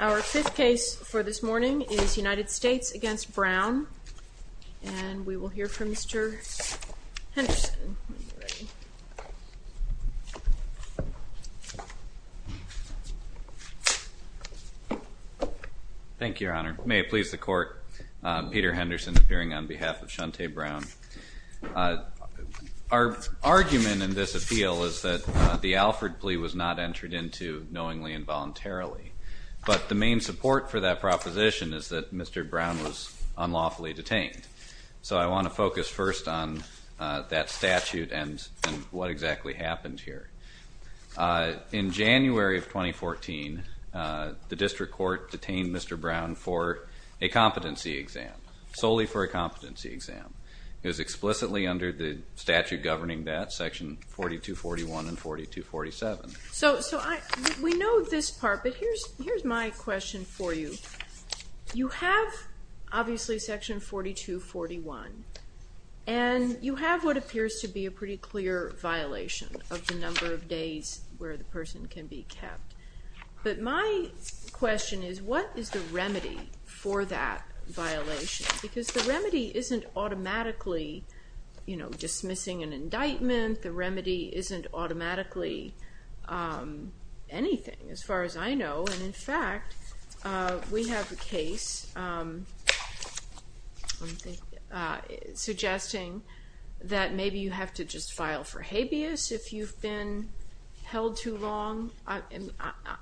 Our fifth case for this morning is United States v. Brown, and we will hear from Mr. Henderson. Thank you, Your Honor. May it please the Court, Peter Henderson appearing on behalf of Shuntay Brown. Our argument in this appeal is that the Alford plea was not entered into knowingly and voluntarily, but the main support for that proposition is that Mr. Brown was unlawfully detained. So I want to focus first on that statute and what exactly happened here. In January of 2014, the district court detained Mr. Brown for a competency exam, solely for a competency exam. It was explicitly under the statute governing that, section 4241 and 4247. So we know this part, but here's my question for you. You have, obviously, section 4241, and you have what appears to be a pretty clear violation of the number of days where the person can be kept. But my question is, what is the remedy for that violation? Because the remedy isn't automatically dismissing an indictment. The remedy isn't automatically anything, as far as I know. And, in fact, we have a case suggesting that maybe you have to just file for habeas if you've been held too long.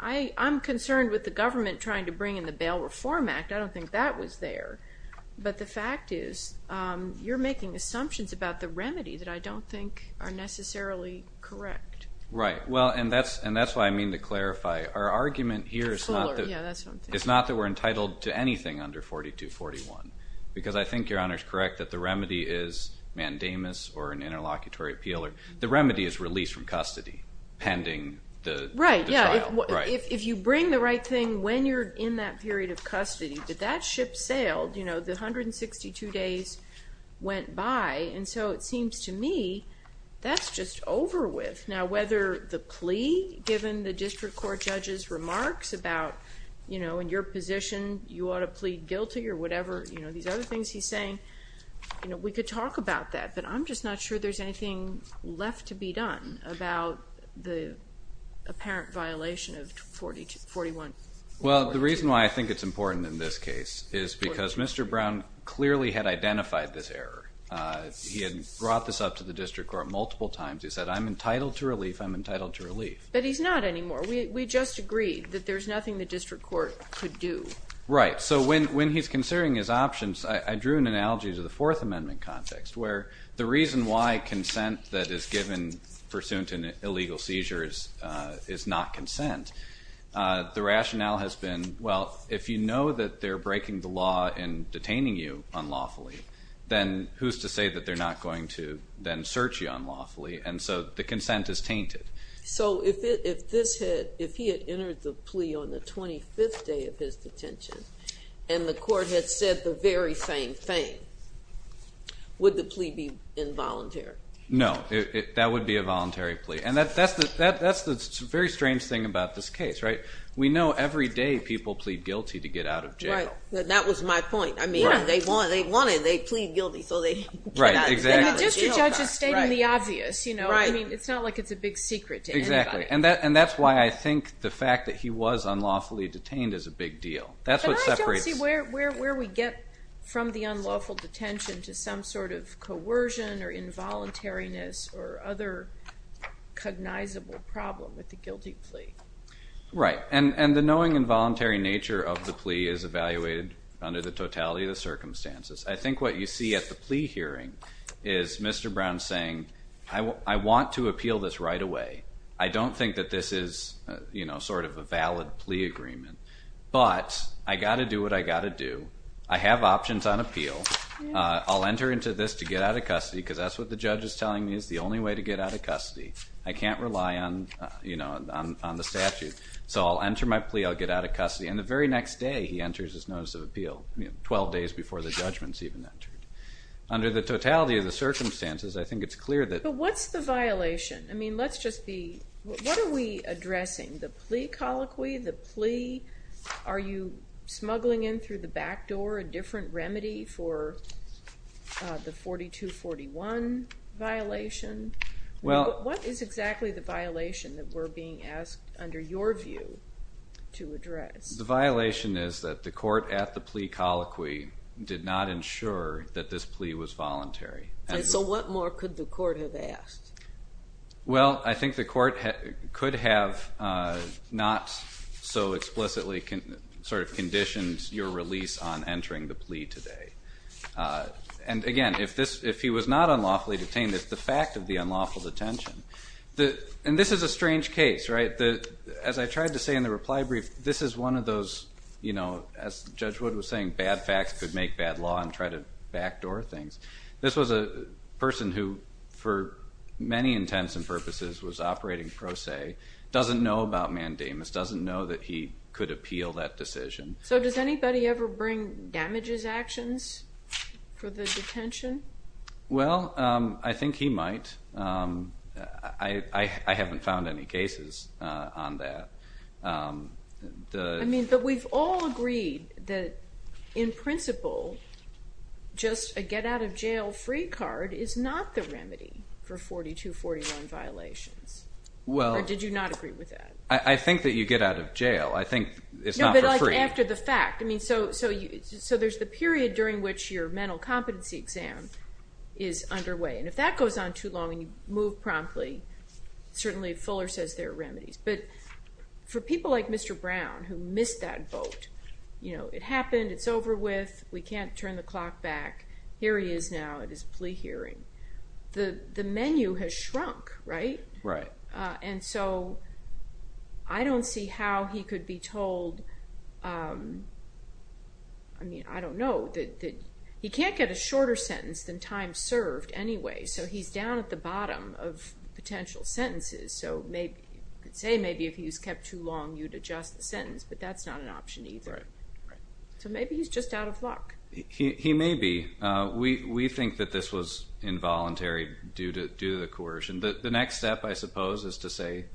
I'm concerned with the government trying to bring in the Bail Reform Act. I don't think that was there. But the fact is, you're making assumptions about the remedy that I don't think are necessarily correct. Right. Well, and that's why I mean to clarify. Our argument here is not that we're entitled to anything under 4241, because I think Your Honor is correct that the remedy is mandamus or an interlocutory appeal. The remedy is release from custody pending the trial. Right. Yeah. If you bring the right thing when you're in that period of custody, but that ship sailed, you know, the 162 days went by. And so it seems to me that's just over with. Now, whether the plea, given the district court judge's remarks about, you know, in your position you ought to plead guilty or whatever, you know, these other things he's saying, you know, we could talk about that. But I'm just not sure there's anything left to be done about the apparent violation of 4142. Well, the reason why I think it's important in this case is because Mr. Brown clearly had identified this error. He had brought this up to the district court multiple times. He said, I'm entitled to relief. I'm entitled to relief. But he's not anymore. We just agreed that there's nothing the district court could do. Right. So when he's considering his options, I drew an analogy to the Fourth Amendment context, where the reason why consent that is given pursuant to an illegal seizure is not consent. The rationale has been, well, if you know that they're breaking the law and detaining you unlawfully, then who's to say that they're not going to then search you unlawfully? And so the consent is tainted. So if he had entered the plea on the 25th day of his detention and the court had said the very same thing, would the plea be involuntary? No. That would be a voluntary plea. And that's the very strange thing about this case, right? We know every day people plead guilty to get out of jail. Right. That was my point. I mean, they want it. They plead guilty. So they get out of jail. And the district judge is stating the obvious. I mean, it's not like it's a big secret to anybody. Exactly. And that's why I think the fact that he was unlawfully detained is a big deal. But I don't see where we get from the unlawful detention to some sort of coercion or involuntariness or other cognizable problem with the guilty plea. Right. And the knowing involuntary nature of the plea is evaluated under the totality of the circumstances. I think what you see at the plea hearing is Mr. Brown saying, I want to appeal this right away. I don't think that this is sort of a valid plea agreement. But I've got to do what I've got to do. I have options on appeal. I'll enter into this to get out of custody because that's what the judge is telling me is the only way to get out of custody. I can't rely on the statute. I'll get out of custody. And the very next day, he enters his notice of appeal, 12 days before the judgment is even entered. Under the totality of the circumstances, I think it's clear that the plea colloquy, the plea, are you smuggling in through the back door a different remedy for the 4241 violation? What is exactly the violation that we're being asked under your view to address? The violation is that the court at the plea colloquy did not ensure that this plea was voluntary. So what more could the court have asked? Well, I think the court could have not so explicitly sort of conditioned your release on entering the plea today. And again, if he was not unlawfully detained, it's the fact of the unlawful detention. And this is a strange case, right? As I tried to say in the reply brief, this is one of those, as Judge Wood was saying, bad facts could make bad law and try to backdoor things. This was a person who, for many intents and purposes, was operating pro se, doesn't know about mandamus, doesn't know that he could appeal that decision. So does anybody ever bring damages actions for the detention? Well, I think he might. I haven't found any cases on that. I mean, but we've all agreed that, in principle, just a get-out-of-jail-free card is not the remedy for 4241 violations. Or did you not agree with that? I think that you get out of jail. I think it's not for free. No, but like after the fact. I mean, so there's the period during which your mental competency exam is underway. And if that goes on too long and you move promptly, certainly Fuller says there are remedies. But for people like Mr. Brown, who missed that vote, you know, it happened, it's over with, we can't turn the clock back, here he is now at his plea hearing. The menu has shrunk, right? Right. And so I don't see how he could be told, I mean, I don't know. He can't get a shorter sentence than time served anyway, so he's down at the bottom of potential sentences. So I'd say maybe if he was kept too long, you'd adjust the sentence, but that's not an option either. Right. So maybe he's just out of luck. He may be. We think that this was involuntary due to the coercion. The next step, I suppose, is to say,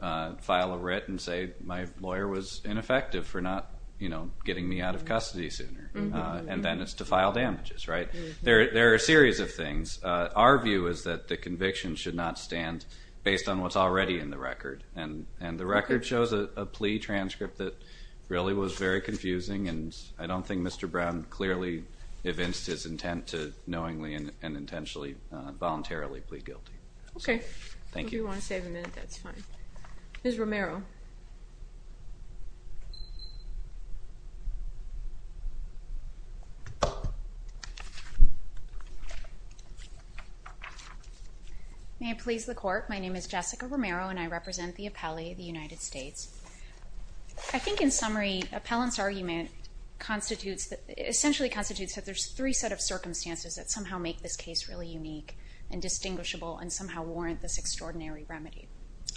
file a writ and say, my lawyer was ineffective for not, you know, getting me out of custody sooner. And then it's to file damages, right? There are a series of things. Our view is that the conviction should not stand based on what's already in the record. And the record shows a plea transcript that really was very confusing, and I don't think Mr. Brown clearly evinced his intent to knowingly and intentionally voluntarily plead guilty. Okay. Thank you. If you want to save a minute, that's fine. Ms. Romero. May it please the Court, my name is Jessica Romero and I represent the appellee of the United States. I think in summary, appellant's argument constitutes, essentially constitutes that there's three set of circumstances that somehow make this case really unique and distinguishable and somehow warrant this extraordinary remedy.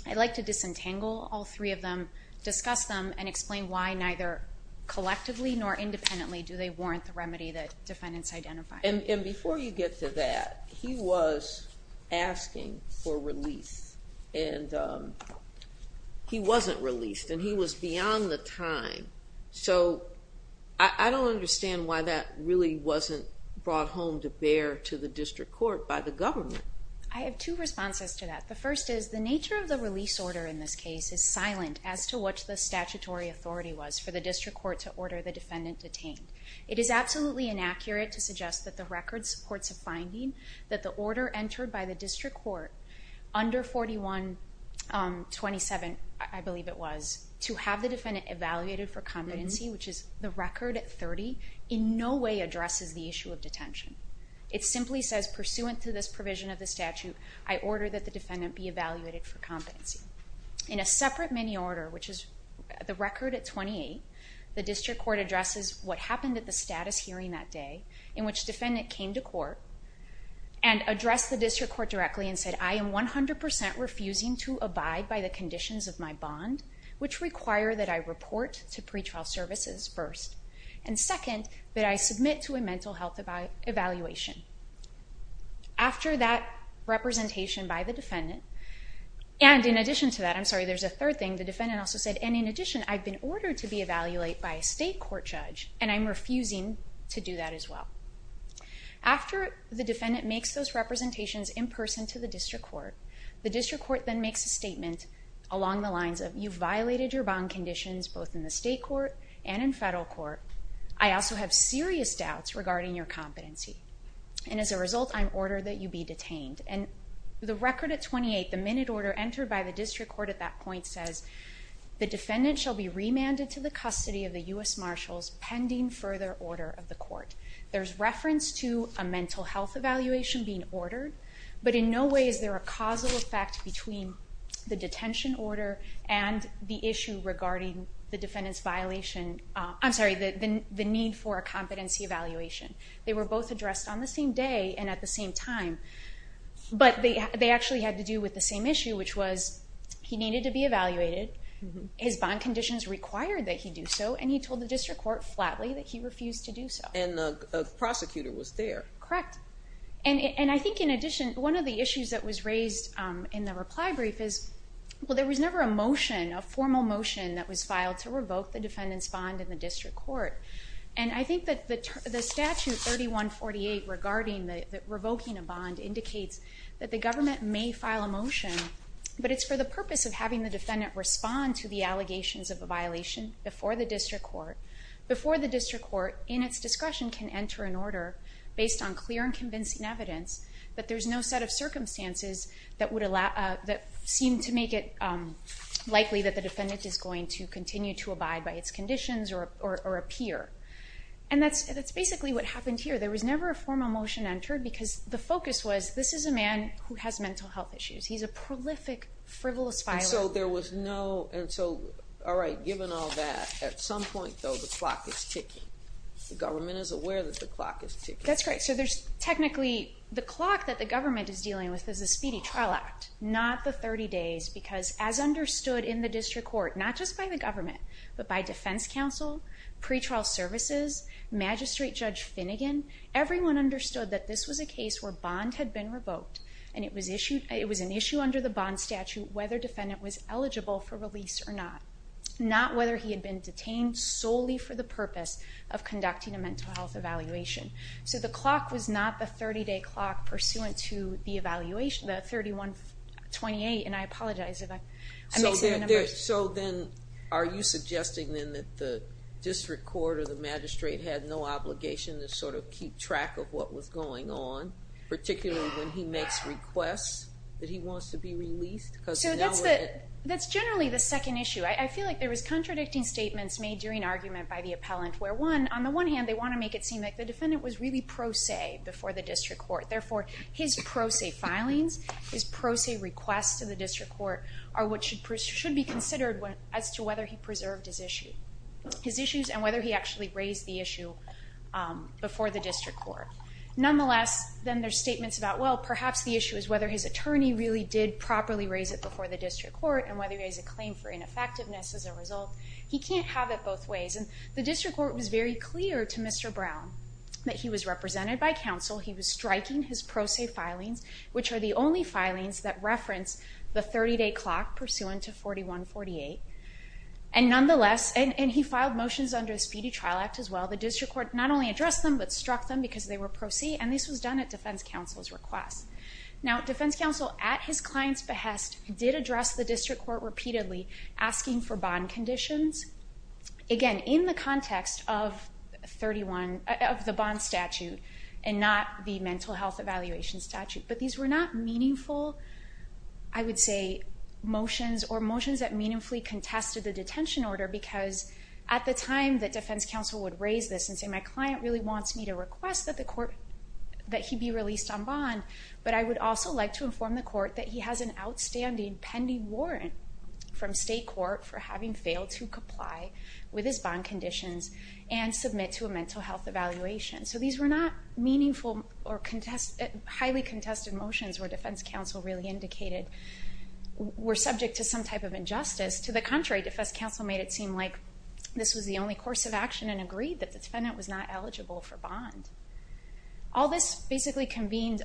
I'd like to disentangle all three of them, discuss them, and explain why neither collectively nor independently do they warrant the remedy that defendants identify. And before you get to that, he was asking for release. And he wasn't released, and he was beyond the time. So I don't understand why that really wasn't brought home to bear to the district court by the government. I have two responses to that. The first is the nature of the release order in this case is silent as to what the statutory authority was for the district court to order the defendant detained. It is absolutely inaccurate to suggest that the record supports a finding that the order entered by the district court under 4127, I believe it was, to have the defendant evaluated for competency, which is the record at 30, in no way addresses the issue of detention. It simply says, pursuant to this provision of the statute, I order that the defendant be evaluated for competency. In a separate mini order, which is the record at 28, the district court addresses what happened at the status hearing that day in which defendant came to court and addressed the district court directly and said, I am 100% refusing to abide by the conditions of my bond, which require that I report to pretrial services first, and second, that I submit to a mental health evaluation. After that representation by the defendant, and in addition to that, I'm sorry, there's a third thing, the defendant also said, and in addition, I've been ordered to be evaluated by a state court judge, and I'm refusing to do that as well. After the defendant makes those representations in person to the district court, the district court then makes a statement along the lines of, you've violated your bond conditions both in the state court and in federal court. I also have serious doubts regarding your competency, and as a result I'm ordered that you be detained. The record at 28, the minute order entered by the district court at that point, says the defendant shall be remanded to the custody of the U.S. Marshals pending further order of the court. There's reference to a mental health evaluation being ordered, but in no way is there a causal effect between the detention order and the issue regarding the defendant's violation, I'm sorry, the need for a competency evaluation. They were both addressed on the same day and at the same time, but they actually had to do with the same issue, which was he needed to be evaluated, his bond conditions required that he do so, and he told the district court flatly that he refused to do so. And the prosecutor was there. Correct. And I think in addition, one of the issues that was raised in the reply brief is, well there was never a motion, a formal motion, that was filed to revoke the defendant's bond in the district court. And I think that the statute 3148 regarding revoking a bond indicates that the government may file a motion, but it's for the purpose of having the defendant respond to the allegations of a violation before the district court, before the district court in its discretion can enter an order based on clear and convincing evidence that there's no set of circumstances that seem to make it likely that the defendant is going to continue to abide by its conditions or appear. And that's basically what happened here. There was never a formal motion entered because the focus was, this is a man who has mental health issues. He's a prolific, frivolous violator. And so there was no, all right, given all that, at some point, though, the clock is ticking. The government is aware that the clock is ticking. That's right. So there's technically, the clock that the government is dealing with is the Speedy Trial Act, not the 30 days, because as understood in the district court, not just by the government, but by defense counsel, pretrial services, magistrate Judge Finnegan, everyone understood that this was a case where bond had been revoked and it was an issue under the bond statute whether defendant was eligible for release or not, not whether he had been detained solely for the purpose of conducting a mental health evaluation. So the clock was not the 30-day clock pursuant to the evaluation, the 31-28, and I apologize if I'm missing the numbers. So then are you suggesting then that the district court or the magistrate had no obligation to sort of keep track of what was going on, particularly when he makes requests that he wants to be released? So that's generally the second issue. I feel like there was contradicting statements made during argument by the appellant where, one, on the one hand, they want to make it seem like the defendant was really pro se before the district court. Therefore, his pro se filings, his pro se requests to the district court are what should be considered as to whether he preserved his issues and whether he actually raised the issue before the district court. Nonetheless, then there's statements about, well, perhaps the issue is whether his attorney really did properly raise it before the district court and whether he raised a claim for ineffectiveness as a result. He can't have it both ways. And the district court was very clear to Mr. Brown that he was represented by counsel. He was striking his pro se filings, which are the only filings that reference the 30-day clock pursuant to 41-48. And nonetheless, and he filed motions under the Speedy Trial Act as well, the district court not only addressed them but struck them because they were pro se, and this was done at defense counsel's request. Now, defense counsel, at his client's behest, did address the district court repeatedly asking for bond conditions. Again, in the context of the bond statute and not the mental health evaluation statute. But these were not meaningful, I would say, motions or motions that meaningfully contested the detention order because at the time that defense counsel would raise this but I would also like to inform the court that he has an outstanding pending warrant from state court for having failed to comply with his bond conditions and submit to a mental health evaluation. So these were not meaningful or highly contested motions where defense counsel really indicated we're subject to some type of injustice. To the contrary, defense counsel made it seem like this was the only course of action and agreed that the defendant was not eligible for bond. All this basically convened,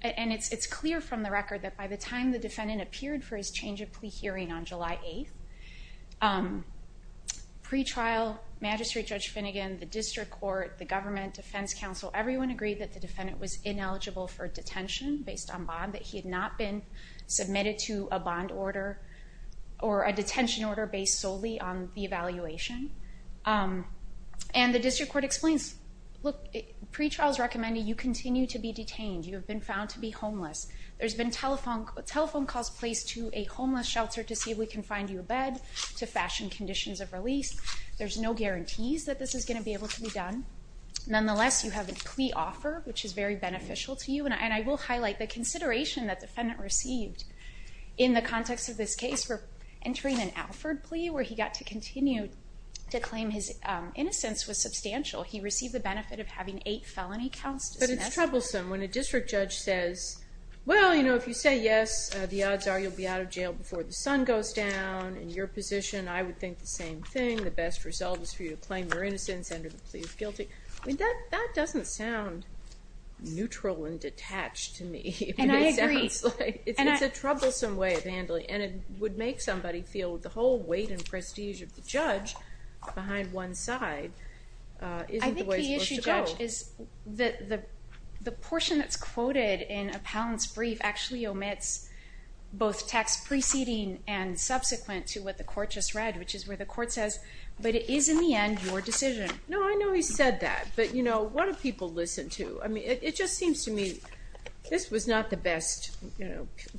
and it's clear from the record that by the time the defendant appeared for his change of plea hearing on July 8th, pretrial, Magistrate Judge Finnegan, the district court, the government, defense counsel, everyone agreed that the defendant was ineligible for detention based on bond, that he had not been submitted to a bond order or a detention order based solely on the evaluation. And the district court explains, look, pretrial is recommending you continue to be detained, you have been found to be homeless. There's been telephone calls placed to a homeless shelter to see if we can find you a bed, to fashion conditions of release. There's no guarantees that this is going to be able to be done. Nonetheless, you have a plea offer which is very beneficial to you and I will highlight the consideration that the defendant received in the context of this case for entering an Alford plea where he got to continue to claim his innocence was substantial. He received the benefit of having eight felony counts dismissed. But it's troublesome when a district judge says, well, you know, if you say yes, the odds are you'll be out of jail before the sun goes down. In your position, I would think the same thing. The best result is for you to claim your innocence and to plead guilty. That doesn't sound neutral and detached to me. And I agree. It's a troublesome way of handling it and it would make somebody feel the whole weight and prestige of the judge behind one side isn't the way it's supposed to go. I think the issue, Judge, is that the portion that's quoted in Appellant's brief actually omits both text preceding and subsequent to what the court just read, which is where the court says, but it is in the end your decision. No, I know he said that. But, you know, what do people listen to? It just seems to me this was not the best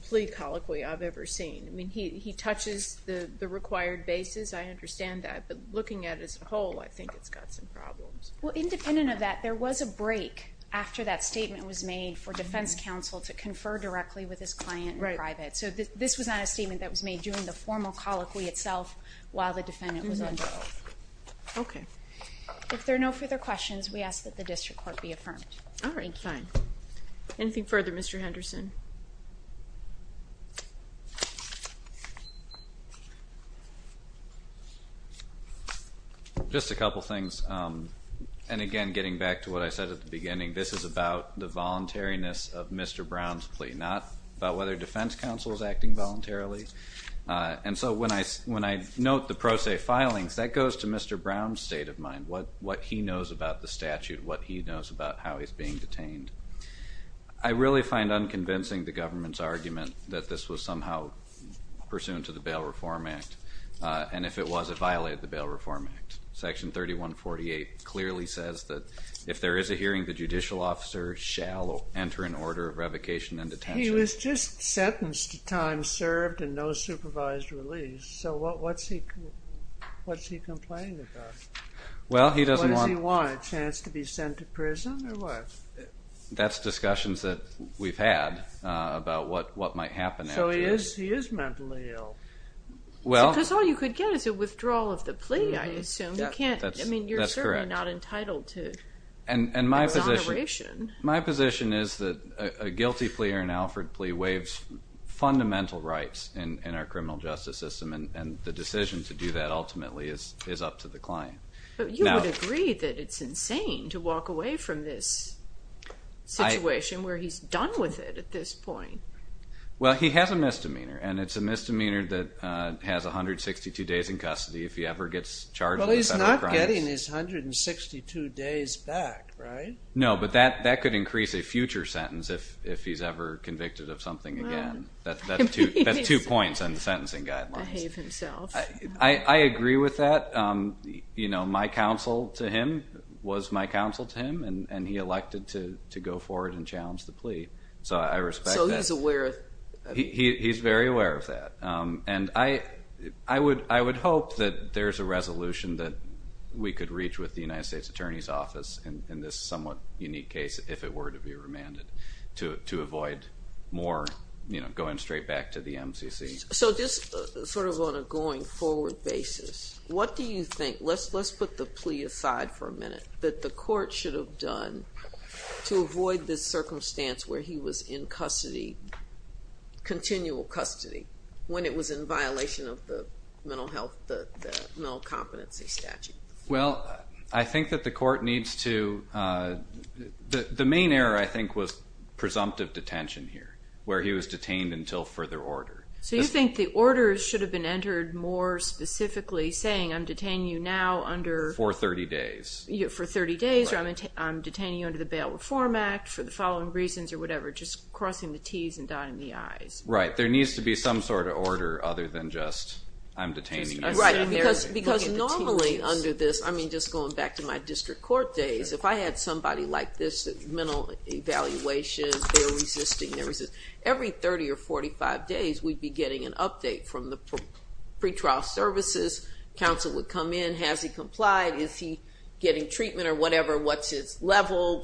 plea colloquy I've ever seen. I mean, he touches the required basis. I understand that. But looking at it as a whole, I think it's got some problems. Well, independent of that, there was a break after that statement was made for defense counsel to confer directly with his client in private. So this was not a statement that was made during the formal colloquy itself while the defendant was under oath. Okay. If there are no further questions, we ask that the district court be affirmed. All right, fine. Anything further, Mr. Henderson? Just a couple things. And, again, getting back to what I said at the beginning, this is about the voluntariness of Mr. Brown's plea, not about whether defense counsel is acting voluntarily. And so when I note the pro se filings, that goes to Mr. Brown's state of mind, what he knows about the statute, what he knows about how he's being detained. I really find unconvincing the government's argument that this was somehow pursuant to the Bail Reform Act. And if it was, it violated the Bail Reform Act. Section 3148 clearly says that if there is a hearing, the judicial officer shall enter in order of revocation and detention. He was just sentenced to time served and no supervised release. So what's he complaining about? What does he want, a chance to be sent to prison or what? That's discussions that we've had about what might happen after. So he is mentally ill. Because all you could get is a withdrawal of the plea, I assume. I mean, you're certainly not entitled to exoneration. My position is that a guilty plea or an Alfred plea waives fundamental rights in our criminal justice system, and the decision to do that ultimately is up to the client. But you would agree that it's insane to walk away from this situation where he's done with it at this point. Well, he has a misdemeanor, and it's a misdemeanor that has 162 days in custody if he ever gets charged with a set of crimes. Well, he's not getting his 162 days back, right? No, but that could increase a future sentence if he's ever convicted of something again. That's two points on the sentencing guidelines. I agree with that. You know, my counsel to him was my counsel to him, and he elected to go forward and challenge the plea. So I respect that. He's very aware of that. And I would hope that there's a resolution that we could reach with the United States Attorney's Office in this somewhat unique case if it were to be remanded to avoid more going straight back to the MCC. So just sort of on a going forward basis, what do you think, let's put the plea aside for a minute, that the court should have done to avoid this circumstance where he was in custody, continual custody, when it was in violation of the mental health, the mental competency statute? Well, I think that the court needs to... The main error, I think, was presumptive detention here, where he was detained until further order. So you think the order should have been entered more specifically saying, I'm detaining you now under... For 30 days. For 30 days, or I'm detaining you under the Bail Reform Act for the following reasons, or whatever, just crossing the T's and dotting the I's. Right, there needs to be some sort of order other than just I'm detaining you. Right, because normally under this, I mean, just going back to my district court days, if I had somebody like this, mental evaluation, they're resisting, they're resisting. Every 30 or 45 days, we'd be getting an update from the pretrial services. Counsel would come in, has he complied? Is he getting treatment or whatever? What's his level?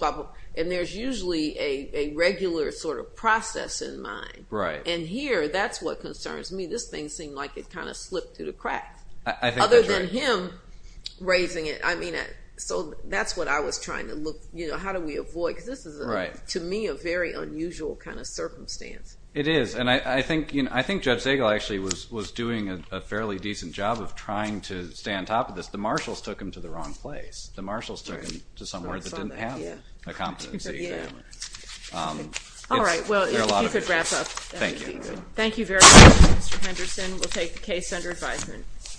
And there's usually a regular sort of process in mind. And here, that's what concerns me. This thing seemed like it kind of slipped through the cracks. Other than him raising it. So that's what I was trying to look... How do we avoid... This is, to me, a very unusual kind of circumstance. It is, and I think Judge Zagel actually was doing a fairly decent job of trying to stay on top of this. The marshals took him to the wrong place. The marshals took him to somewhere that didn't have the competency. All right, well, if you could wrap up. Thank you. Thank you very much, Mr. Henderson. We'll take the case under advisement.